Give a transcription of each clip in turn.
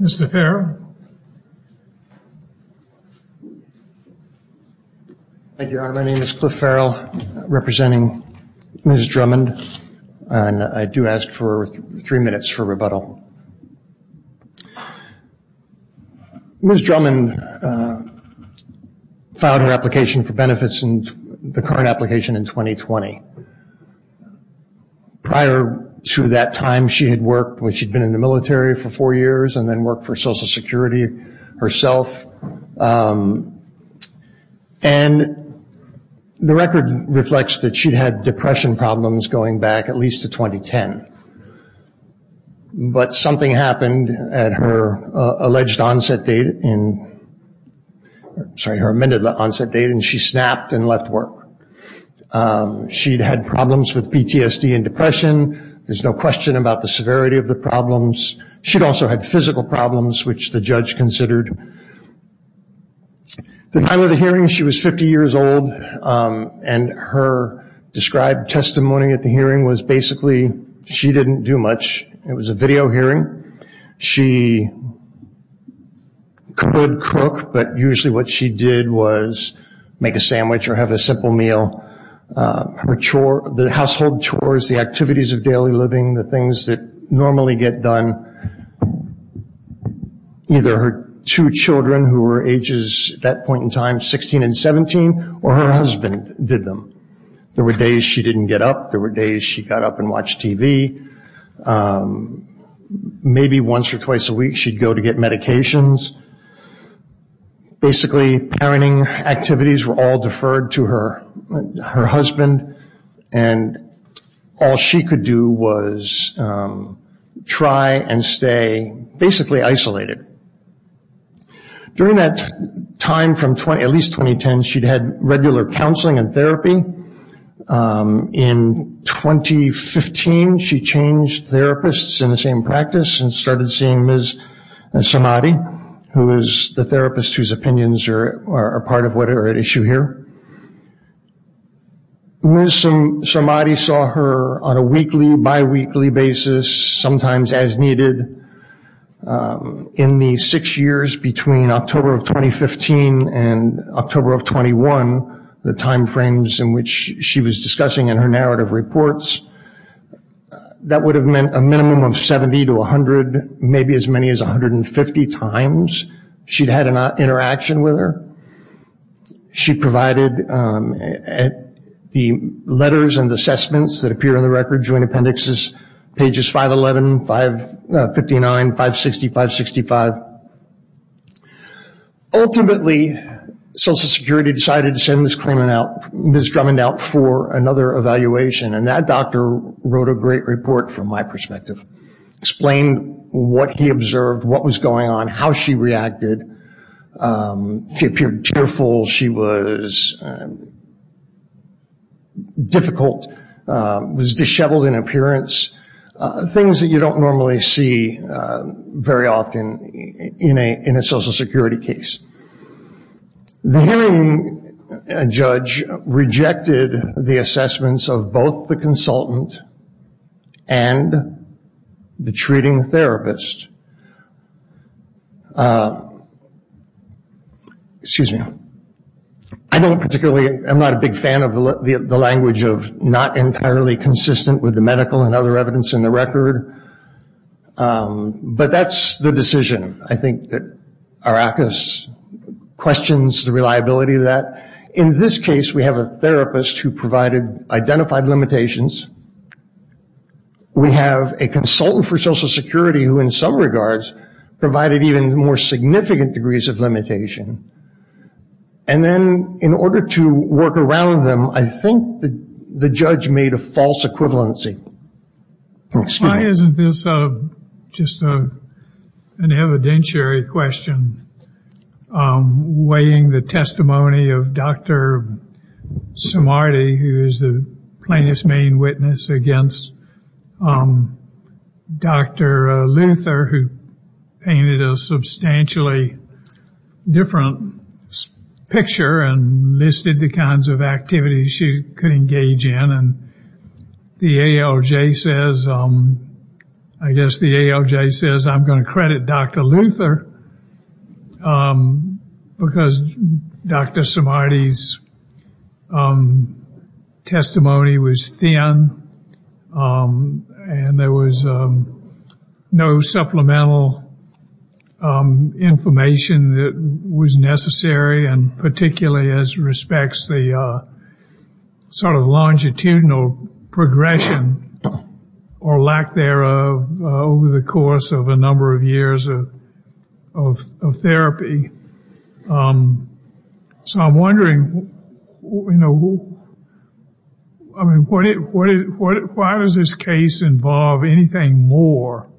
Mr. Farrell. Thank you, Your Honor. My name is Cliff Farrell, representing Ms. Drummond, and I do ask for three minutes for rebuttal. Ms. Drummond filed her application for benefits in the current application in 2020. Prior to that time, she had worked when she'd been in the military for four years and then worked for Social Security herself. And the record reflects that she'd had depression problems going back at least to 2010. But something happened at her alleged onset date in, sorry, her amended onset date, and she snapped and left work. She'd had problems with PTSD and depression. There's no question about the severity of the problems. She'd also had physical problems, which the judge considered. The time of the hearing, she was 50 years old, and her described testimony at the hearing was basically she didn't do much. It was a video hearing. She could cook, but usually what she did was make a sandwich or have a simple meal. The household chores, the activities of daily living, the things that normally get done, either her two children who were ages at that point in time, 16 and 17, or her husband did them. There were days she didn't get up. There were days she got up and watched TV. Maybe once or twice a week she'd go to get medications. Basically, parenting activities were all deferred to her husband, and all she could do was try and stay basically isolated. During that time, at least 2010, she'd had regular counseling and therapy. In 2015, she changed therapists in the same practice and started seeing Ms. Somadi, who is the therapist whose opinions are part of what are at issue here. Ms. Somadi saw her on a weekly, bi-weekly basis, sometimes as needed. In the six years between October of 2015 and October of 21, the time frames in which she was discussing in her narrative reports, that would have been a minimum of 70 to 100, maybe as many as 150 times she'd had an interaction with her. She provided the letters and assessments that appear in the record, joint appendixes, pages 511, 559, 560, 565. Ultimately, Social Security decided to send Ms. Drummond out for another evaluation, and that doctor wrote a great report from my perspective. Explained what he observed, what was going on, how she reacted. She appeared tearful, she was difficult, was disheveled in appearance, things that you don't normally see very often in a Social Security. Rejected the assessments of both the consultant and the treating therapist. I'm not a big fan of the language of not entirely consistent with the medical and other evidence in the record, but that's the decision. I think Arrakis questions the reliability of that. In this case, we have a therapist who provided identified limitations. We have a consultant for Social Security who, in some regards, provided even more significant degrees of limitation. And then, in order to work around them, I think the judge made a false equivalency. Why isn't this just an evidentiary question? Weighing the testimony of Dr. Samardi, who is the plaintiff's main witness, against Dr. Luther, who painted a substantially different picture and listed the kinds of activities she could engage in. And the ALJ says, I guess the ALJ says, I'm going to credit Dr. Luther because Dr. Samardi's testimony was thin and there was no supplemental information that was necessary, and particularly as respects the sort of longitudinal progression or lack thereof over the course of a number of years of therapy. So I'm wondering, you know, why does this case involve anything more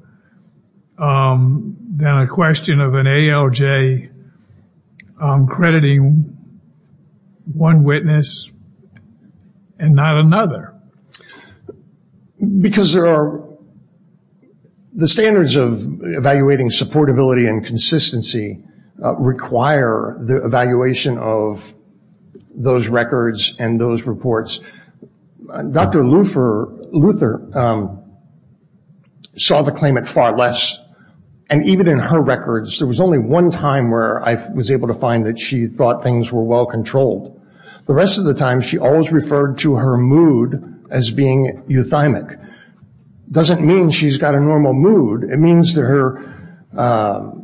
than a question of an ALJ crediting one witness and not another? Because the standards of evaluating supportability and consistency require the evaluation of those records and those reports. Dr. Luther saw the claimant far less. And even in her records, there was only one time where I was able to find that she thought things were well controlled. The rest of the time, she always referred to her mood as being euthymic. It doesn't mean she's got a normal mood. It means that her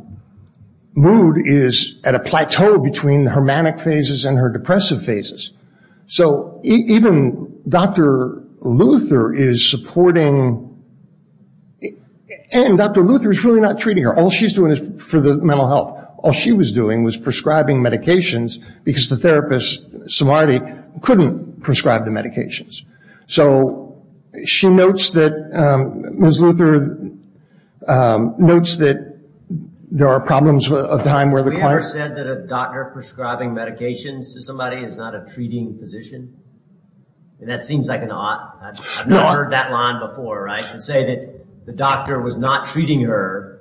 mood is at a plateau between her manic phases and her depressive phases. So even Dr. Luther is supporting, and Dr. Luther is really not treating her. All she's doing is for the mental health. All she was doing was prescribing medications because the therapist, Samardi, couldn't prescribe the medications. So she notes that, Ms. Luther notes that there are problems of time where the client... Have you ever said that a doctor prescribing medications to somebody is not a treating physician? And that seems like an odd, I've never heard that line before, right? To say that the doctor was not treating her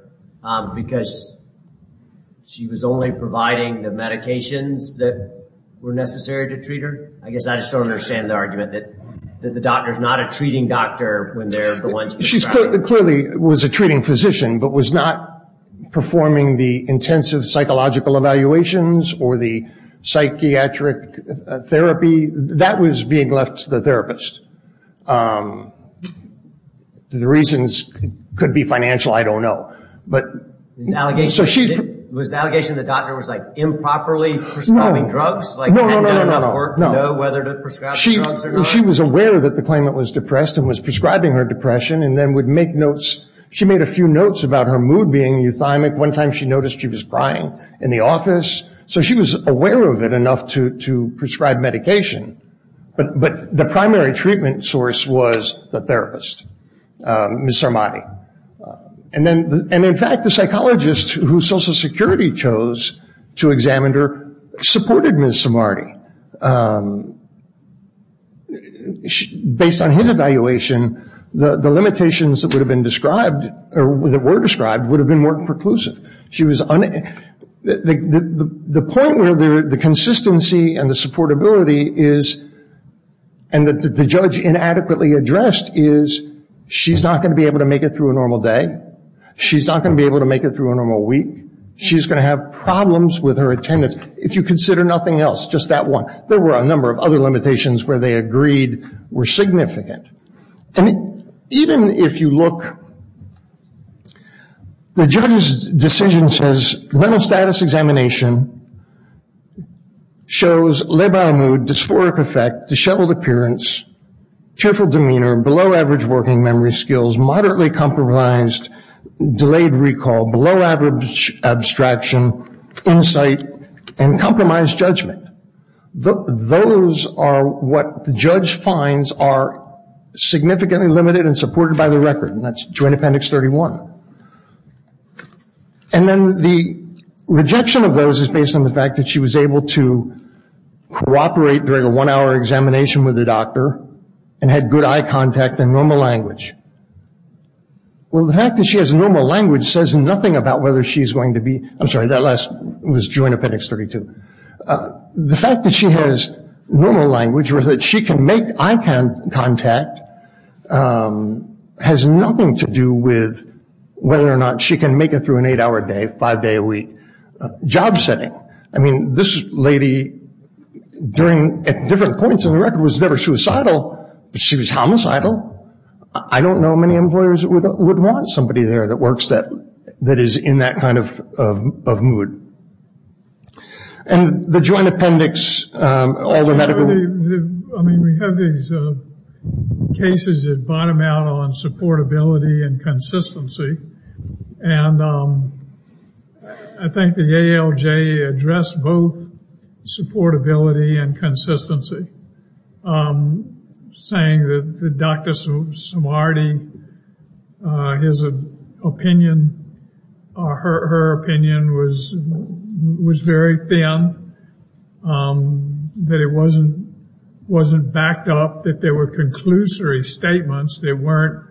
because she was only providing the medications that were necessary to treat her? I guess I just don't understand the argument that the doctor is not a treating doctor when they're the ones prescribing. She clearly was a treating physician, but was not performing the intensive psychological evaluations or the psychiatric therapy. That was being left to the therapist. The reasons could be financial, I don't know. Was the allegation that the doctor was improperly prescribing drugs? No, no, no, no, no, no, no. She was aware that the client was depressed and was prescribing her depression and then would make notes. She made a few notes about her mood being euthymic. One time she noticed she was crying in the office, so she was aware of it enough to prescribe medication, but the primary treatment source was the therapist, Ms. Sarmadi. In fact, the psychologist who Social Security chose to examine her supported Ms. Sarmadi. Based on his evaluation, the limitations that were described would have been more preclusive. The point where the consistency and the supportability is, and the judge inadequately addressed, is she's not going to be able to make it through a normal day. She's not going to be able to make it through a normal week. She's going to have problems with her attendance. If you consider nothing else, just that one, there were a number of other limitations where they agreed were significant. Even if you look, the judge's decision says, mental status examination shows labile mood, dysphoric effect, disheveled appearance, fearful demeanor, below average working memory skills, moderately compromised delayed recall, below average abstraction, insight, and compromised judgment. Those are what the judge finds are significantly limited and supported by the record, and that's Joint Appendix 31. The rejection of those is based on the fact that she was able to cooperate during a one-hour examination with a doctor and had good eye contact and normal language. The fact that she has normal language says nothing about whether she's going to be, I'm sorry, that last was Joint Appendix 32. The fact that she has normal language or that she can make eye contact has nothing to do with whether or not she can make it through an eight-hour day, five-day a week job setting. I mean, this lady, at different points in the record, was never suicidal, but she was homicidal. I don't know many employers that would want somebody there that works that is in that kind of mood. And the Joint Appendix, all the medical. I mean, we have these cases that bottom out on supportability and consistency, and I think the ALJ addressed both supportability and consistency, saying that Dr. Samardi, his opinion or her opinion was very thin, that it wasn't backed up, that there were conclusory statements that weren't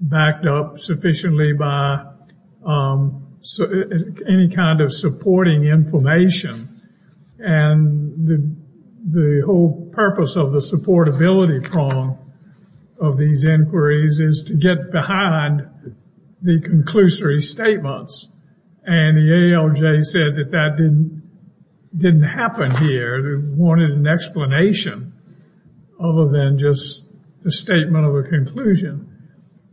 backed up sufficiently by any kind of supporting information. And the whole purpose of the supportability prong of these inquiries is to get behind the conclusory statements. And the ALJ said that that didn't happen here. They wanted an explanation other than just the statement of a conclusion.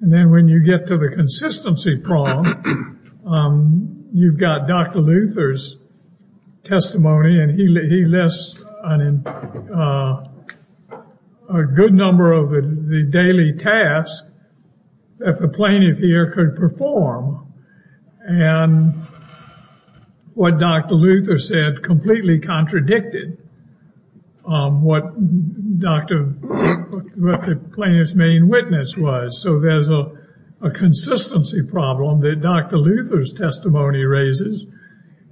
And then when you get to the consistency prong, you've got Dr. Luther's testimony, and he lists a good number of the daily tasks that the plaintiff here could perform. And what Dr. Luther said completely contradicted what the plaintiff's main witness was. So there's a consistency problem that Dr. Luther's testimony raises,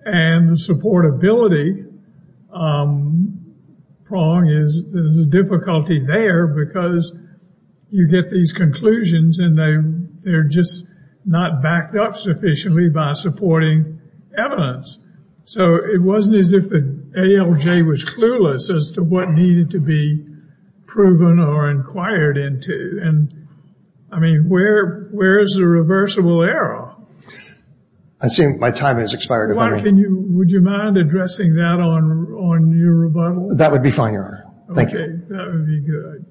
and the supportability prong is a difficulty there because you get these conclusions, and they're just not backed up sufficiently by supporting evidence. So it wasn't as if the ALJ was clueless as to what needed to be proven or inquired into. And, I mean, where is the reversible error? I assume my time has expired. Would you mind addressing that on your rebuttal? That would be fine, Your Honor. Thank you. Okay, that would be good.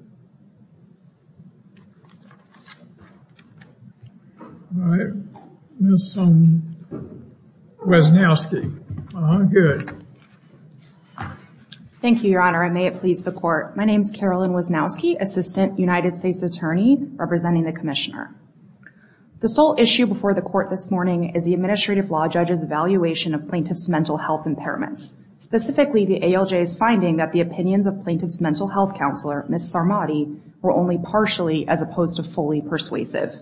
All right, Ms. Wesnowski. Good. Thank you, Your Honor, and may it please the Court. My name is Carolyn Wesnowski, Assistant United States Attorney, representing the Commissioner. The sole issue before the Court this morning is the administrative law judge's evaluation of plaintiff's mental health impairments. Specifically, the ALJ's finding that the opinions of plaintiff's mental health counselor, Ms. Sarmadi, were only partially as opposed to fully persuasive.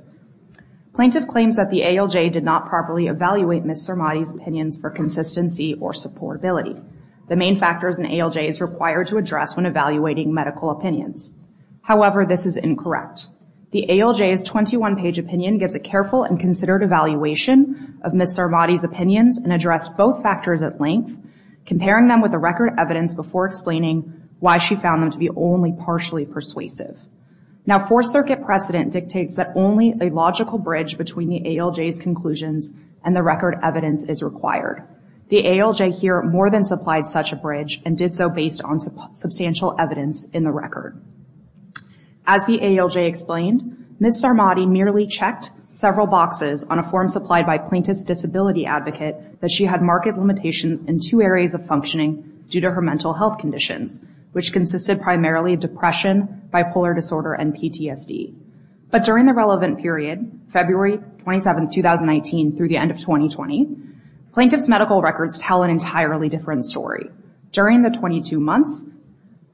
Plaintiff claims that the ALJ did not properly evaluate Ms. Sarmadi's opinions for consistency or supportability. The main factors an ALJ is required to address when evaluating medical opinions. However, this is incorrect. The ALJ's 21-page opinion gives a careful and considered evaluation of Ms. Sarmadi's opinions and addressed both factors at length, comparing them with the record evidence before explaining why she found them to be only partially persuasive. Now, Fourth Circuit precedent dictates that only a logical bridge between the ALJ's conclusions and the record evidence is required. The ALJ here more than supplied such a bridge and did so based on substantial evidence in the record. As the ALJ explained, Ms. Sarmadi merely checked several boxes on a form supplied by plaintiff's disability advocate that she had marked limitations in two areas of functioning due to her mental health conditions, which consisted primarily of depression, bipolar disorder, and PTSD. But during the relevant period, February 27, 2019, through the end of 2020, plaintiff's medical records tell an entirely different story. During the 22 months,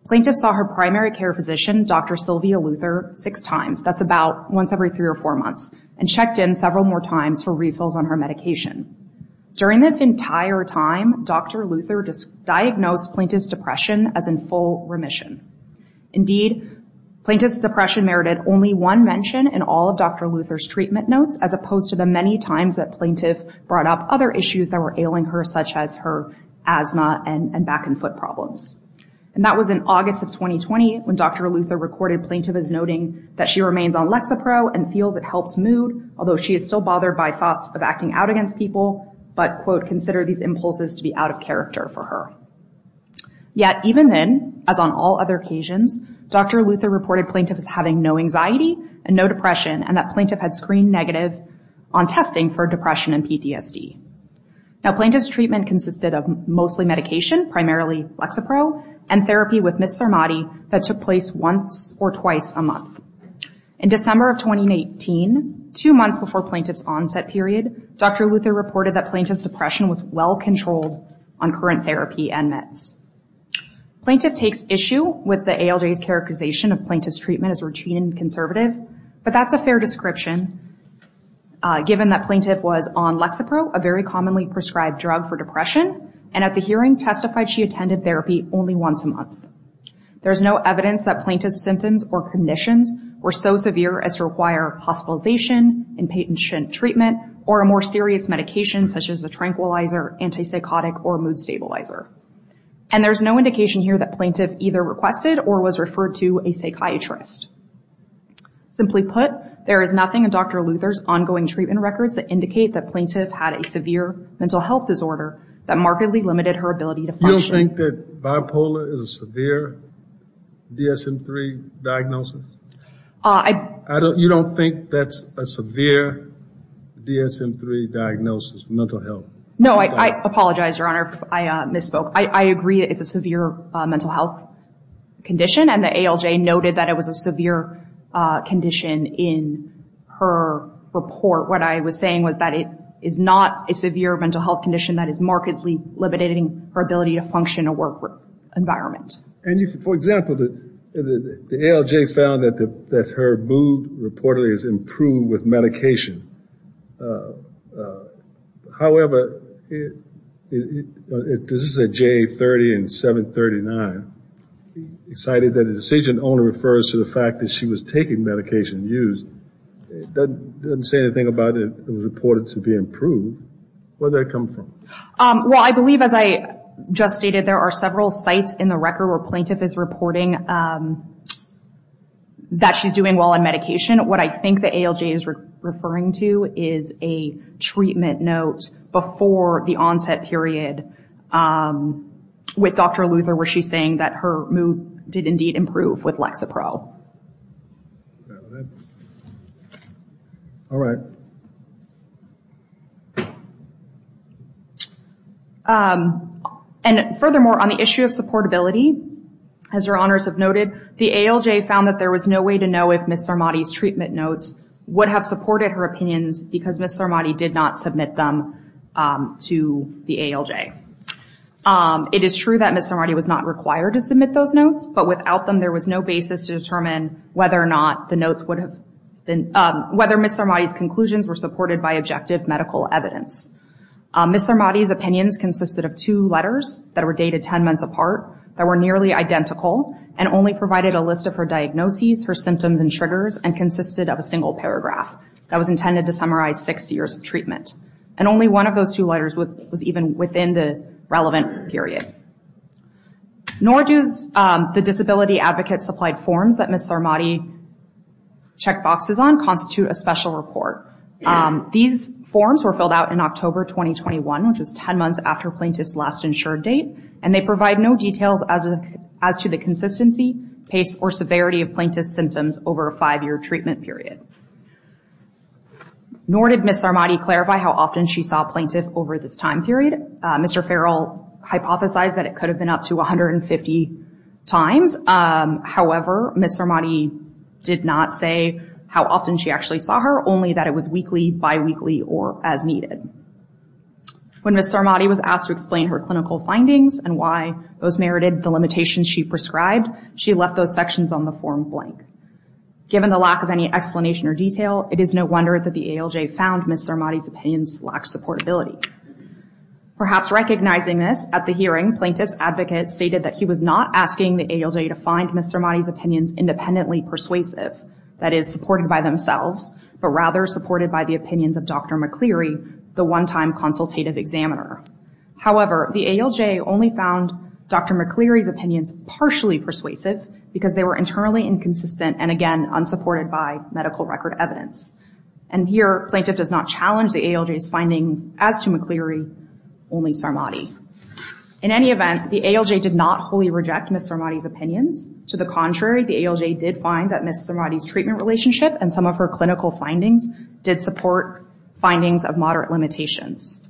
plaintiff saw her primary care physician, Dr. Sylvia Luther, six times. That's about once every three or four months, and checked in several more times for refills on her medication. During this entire time, Dr. Luther diagnosed plaintiff's depression as in full remission. Indeed, plaintiff's depression merited only one mention in all of Dr. Luther's treatment notes, as opposed to the many times that plaintiff brought up other issues that were ailing her, such as her asthma and back and foot problems. And that was in August of 2020, when Dr. Luther recorded plaintiff as noting that she remains on Lexapro and feels it helps mood, although she is still bothered by thoughts of acting out against people, but, quote, consider these impulses to be out of character for her. Yet even then, as on all other occasions, Dr. Luther reported plaintiff as having no anxiety and no depression, and that plaintiff had screened negative on testing for depression and PTSD. Now, plaintiff's treatment consisted of mostly medication, primarily Lexapro, and therapy with Ms. Sarmadi that took place once or twice a month. In December of 2018, two months before plaintiff's onset period, Dr. Luther reported that plaintiff's depression was well-controlled on current therapy and meds. Plaintiff takes issue with the ALJ's characterization of plaintiff's treatment as routine and conservative, but that's a fair description given that plaintiff was on Lexapro, a very commonly prescribed drug for depression, and at the hearing testified she attended therapy only once a month. There's no evidence that plaintiff's symptoms or conditions were so severe as to require hospitalization, inpatient treatment, or a more serious medication such as a tranquilizer, antipsychotic, or mood stabilizer. And there's no indication here that plaintiff either requested or was referred to a psychiatrist. Simply put, there is nothing in Dr. Luther's ongoing treatment records that indicate that plaintiff had a severe mental health disorder that markedly limited her ability to function. You don't think that bipolar is a severe DSM-III diagnosis? You don't think that's a severe DSM-III diagnosis, mental health? No, I apologize, Your Honor, I misspoke. I agree it's a severe mental health condition, and the ALJ noted that it was a severe condition in her report. What I was saying was that it is not a severe mental health condition that is markedly limiting her ability to function in a work environment. And for example, the ALJ found that her mood reportedly has improved with medication. However, this is a JA-30 and 739. It cited that the decision only refers to the fact that she was taking medication used. It doesn't say anything about it was reported to be improved. Where did that come from? Well, I believe, as I just stated, there are several sites in the record where plaintiff is reporting that she's doing well on medication. What I think the ALJ is referring to is a treatment note before the onset period with Dr. Luther, where she's saying that her mood did indeed improve with Lexapro. All right. And furthermore, on the issue of supportability, as Your Honors have noted, the ALJ found that there was no way to know if Ms. Sarmadi's treatment notes would have supported her opinions because Ms. Sarmadi did not submit them to the ALJ. It is true that Ms. Sarmadi was not required to submit those notes, but without them there was no basis to determine whether Ms. Sarmadi's conclusions were supported by objective medical evidence. Ms. Sarmadi's opinions consisted of two letters that were dated 10 months apart that were nearly identical and only provided a list of her diagnoses, her symptoms and triggers, and consisted of a single paragraph that was intended to summarize six years of treatment. And only one of those two letters was even within the relevant period. Nor do the disability advocate-supplied forms that Ms. Sarmadi checked boxes on constitute a special report. These forms were filled out in October 2021, which was 10 months after plaintiff's last insured date, and they provide no details as to the consistency, pace, or severity of plaintiff's symptoms over a five-year treatment period. Nor did Ms. Sarmadi clarify how often she saw a plaintiff over this time period. Mr. Farrell hypothesized that it could have been up to 150 times. However, Ms. Sarmadi did not say how often she actually saw her, only that it was weekly, biweekly, or as needed. When Ms. Sarmadi was asked to explain her clinical findings and why those merited the limitations she prescribed, she left those sections on the form blank. Given the lack of any explanation or detail, it is no wonder that the ALJ found Ms. Sarmadi's opinions lacked supportability. Perhaps recognizing this, at the hearing, plaintiff's advocate stated that he was not asking the ALJ to find Ms. Sarmadi's opinions independently persuasive, that is, supported by themselves, but rather supported by the opinions of Dr. McCleary, the one-time consultative examiner. However, the ALJ only found Dr. McCleary's opinions partially persuasive because they were internally inconsistent and, again, unsupported by medical record evidence. And here, plaintiff does not challenge the ALJ's findings as to McCleary, only Sarmadi. In any event, the ALJ did not wholly reject Ms. Sarmadi's opinions. To the contrary, the ALJ did find that Ms. Sarmadi's treatment relationship and some of her clinical findings did support findings of moderate limitations.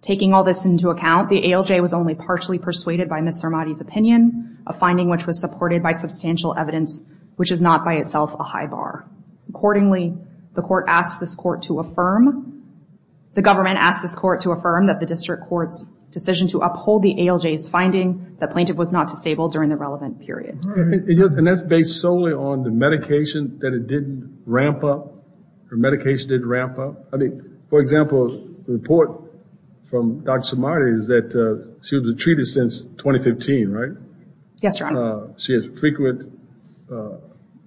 Taking all this into account, the ALJ was only partially persuaded by Ms. Sarmadi's opinion, a finding which was supported by substantial evidence, which is not by itself a high bar. Accordingly, the court asked this court to affirm, that the district court's decision to uphold the ALJ's finding, that plaintiff was not disabled during the relevant period. And that's based solely on the medication that it didn't ramp up? Her medication didn't ramp up? I mean, for example, the report from Dr. Sarmadi is that she was treated since 2015, right? Yes, Your Honor. She has frequent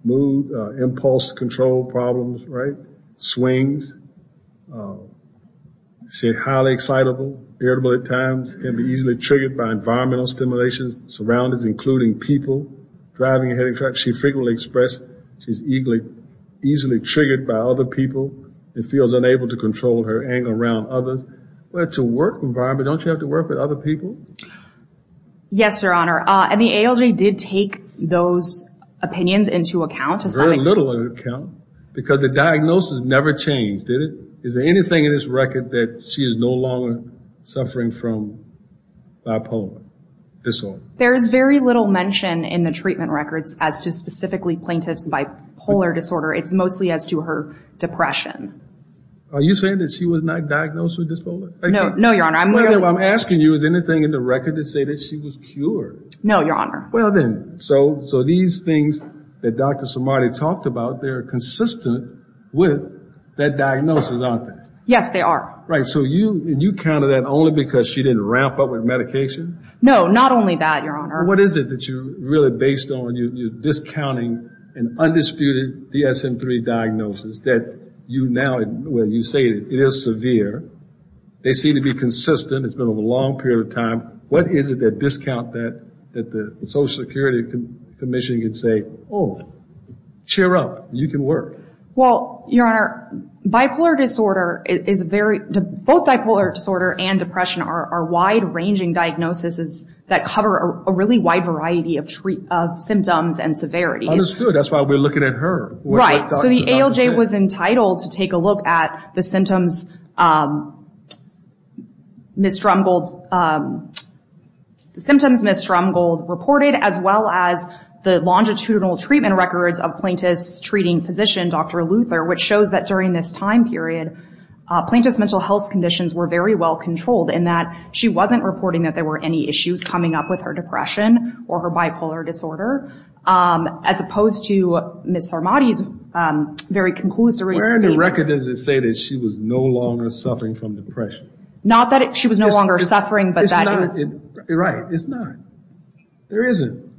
mood, impulse control problems, right? Swings. She's highly excitable, irritable at times, can be easily triggered by environmental stimulations, surroundings including people, driving a heavy truck. She frequently expresses she's easily triggered by other people and feels unable to control her anger around others. It's a work environment. Don't you have to work with other people? Yes, Your Honor. And the ALJ did take those opinions into account? Very little into account, because the diagnosis never changed, did it? Is there anything in this record that she is no longer suffering from bipolar disorder? There is very little mention in the treatment records as to specifically plaintiffs bipolar disorder. It's mostly as to her depression. Are you saying that she was not diagnosed with bipolar? No, Your Honor. I'm asking you, is there anything in the record to say that she was cured? No, Your Honor. Well, then, so these things that Dr. Sarmadi talked about, they're consistent with that diagnosis, aren't they? Yes, they are. Right. So you counted that only because she didn't ramp up with medication? No, not only that, Your Honor. What is it that you really based on? You're discounting an undisputed DSM-3 diagnosis that you now, where you say it is severe, they seem to be consistent, it's been over a long period of time. What is it that discount that the Social Security Commission can say, oh, cheer up, you can work? Well, Your Honor, bipolar disorder is a very, both bipolar disorder and depression are wide-ranging diagnoses that cover a really wide variety of symptoms and severities. Understood. That's why we're looking at her. Right. So the ALJ was entitled to take a look at the symptoms Ms. Strumgold reported, as well as the longitudinal treatment records of plaintiff's treating physician, Dr. Luther, which shows that during this time period, plaintiff's mental health conditions were very well controlled, in that she wasn't reporting that there were any issues coming up with her depression or her bipolar disorder, as opposed to Ms. Sarmadi's very conclusory statements. Where in the record does it say that she was no longer suffering from depression? Not that she was no longer suffering, but that is. Right. It's not. There isn't.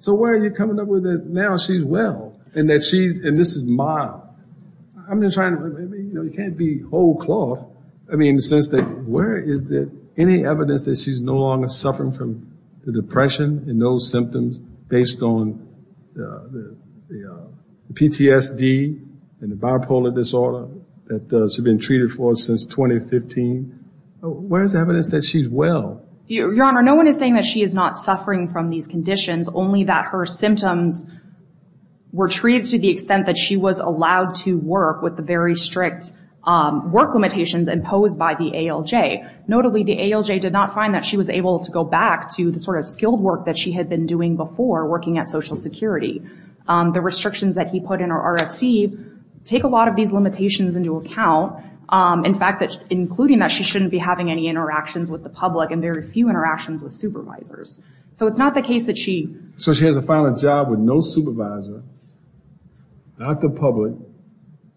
So where are you coming up with that now she's well, and that she's, and this is mild. I'm just trying to, you know, it can't be whole cloth. I mean, in the sense that where is there any evidence that she's no longer suffering from the depression and those symptoms based on the PTSD and the bipolar disorder that she's been treated for since 2015? Where is the evidence that she's well? Your Honor, no one is saying that she is not suffering from these conditions, only that her symptoms were treated to the extent that she was allowed to work with the very strict work limitations imposed by the ALJ. Notably, the ALJ did not find that she was able to go back to the sort of skilled work that she had been doing before working at Social Security. The restrictions that he put in her RFC take a lot of these limitations into account. In fact, including that she shouldn't be having any interactions with the public and very few interactions with supervisors. So it's not the case that she. So she has a final job with no supervisor, not the public.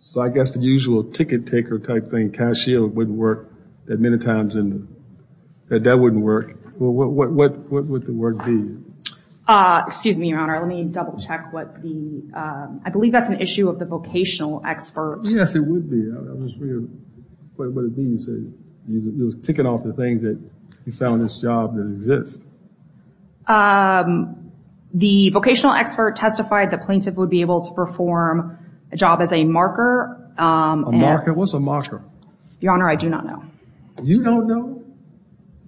So I guess the usual ticket taker type thing, cashier, wouldn't work that many times. That that wouldn't work. What would the work be? Excuse me, Your Honor. Let me double check what the, I believe that's an issue of the vocational expert. Yes, it would be. I was just wondering what it means. It was ticking off the things that you found in this job that exist. The vocational expert testified the plaintiff would be able to perform a job as a marker. A marker? What's a marker? Your Honor, I do not know. You don't know?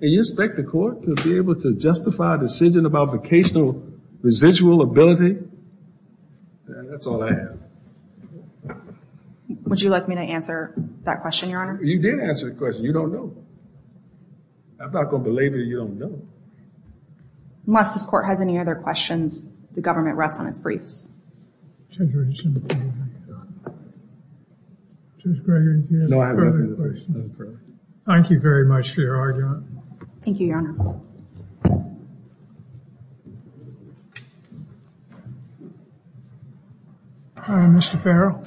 And you expect the court to be able to justify a decision about vocational residual ability? That's all I have. Would you like me to answer that question, Your Honor? You did answer the question. You don't know. I'm not going to believe that you don't know. Unless this court has any other questions, the government rests on its briefs. Judge Gregory, do you have any further questions? No, I have nothing further. Thank you very much for your argument. Thank you, Your Honor. Mr. Farrell?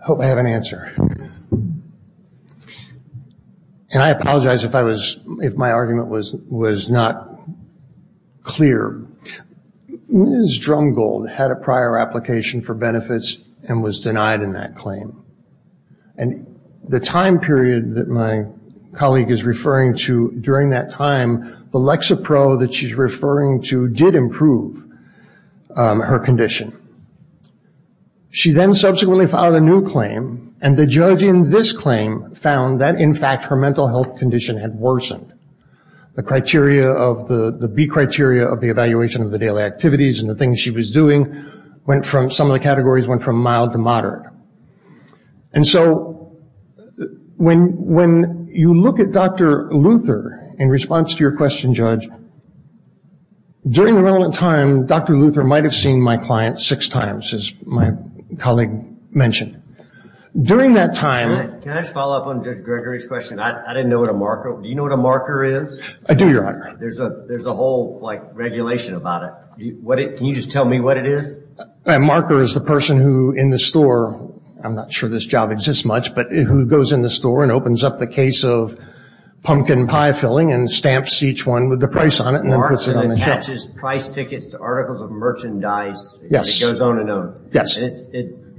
I hope I have an answer. I apologize if my argument was not clear. Ms. Drumgold had a prior application for benefits and was denied in that claim. The time period that my colleague is referring to during that time, the Lexapro that she's referring to did improve her condition. She then subsequently filed a new claim, and the judge in this claim found that, in fact, her mental health condition had worsened. The criteria, the B criteria of the evaluation of the daily activities and the things she was doing, some of the categories went from mild to moderate. And so when you look at Dr. Luther, in response to your question, Judge, during the relevant time, Dr. Luther might have seen my client six times, as my colleague mentioned. During that time – Can I just follow up on Judge Gregory's question? I didn't know what a marker – do you know what a marker is? I do, Your Honor. There's a whole regulation about it. Can you just tell me what it is? A marker is the person who, in the store – I'm not sure this job exists much – but who goes in the store and opens up the case of pumpkin pie filling and stamps each one with the price on it and then puts it on the shelf. A marker that attaches price tickets to articles of merchandise. Yes. It goes on and on. Yes.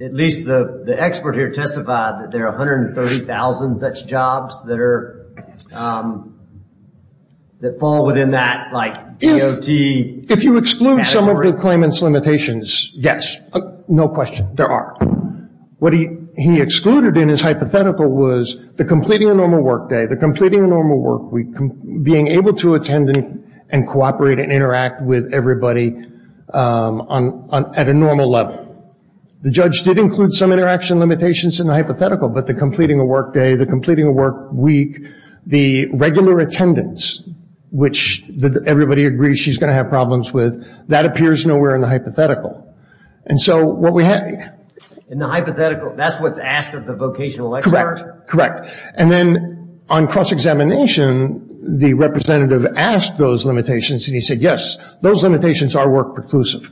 At least the expert here testified that there are 130,000 such jobs that fall within that DOT category. Do you have some of the claimant's limitations? Yes. No question. There are. What he excluded in his hypothetical was the completing a normal workday, the completing a normal workweek, being able to attend and cooperate and interact with everybody at a normal level. The judge did include some interaction limitations in the hypothetical, but the completing a workday, the completing a workweek, the regular attendance, which everybody agrees she's going to have problems with, that appears nowhere in the hypothetical. In the hypothetical, that's what's asked of the vocational expert? Correct. And then on cross-examination, the representative asked those limitations, and he said, yes, those limitations are work preclusive.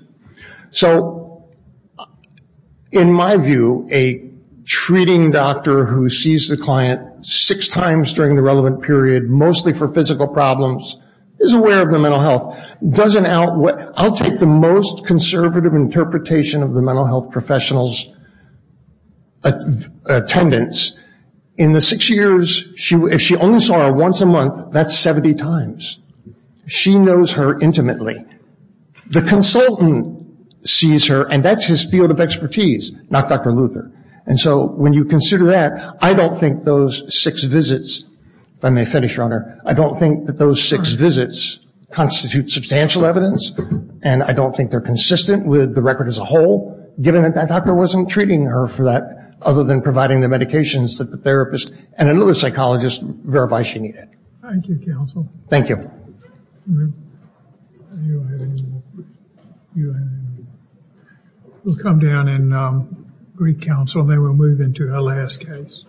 In my view, a treating doctor who sees the client six times during the relevant period, mostly for physical problems, is aware of their mental health. I'll take the most conservative interpretation of the mental health professional's attendance. In the six years, if she only saw her once a month, that's 70 times. She knows her intimately. The consultant sees her, and that's his field of expertise, not Dr. Luther. And so when you consider that, I don't think those six visits, if I may finish, Your Honor, I don't think that those six visits constitute substantial evidence, and I don't think they're consistent with the record as a whole, given that that doctor wasn't treating her for that, other than providing the medications that the therapist and another psychologist verified she needed. Thank you, counsel. Thank you. You don't have any more. You don't have any more. We'll come down and recounsel, and then we'll move into our last case.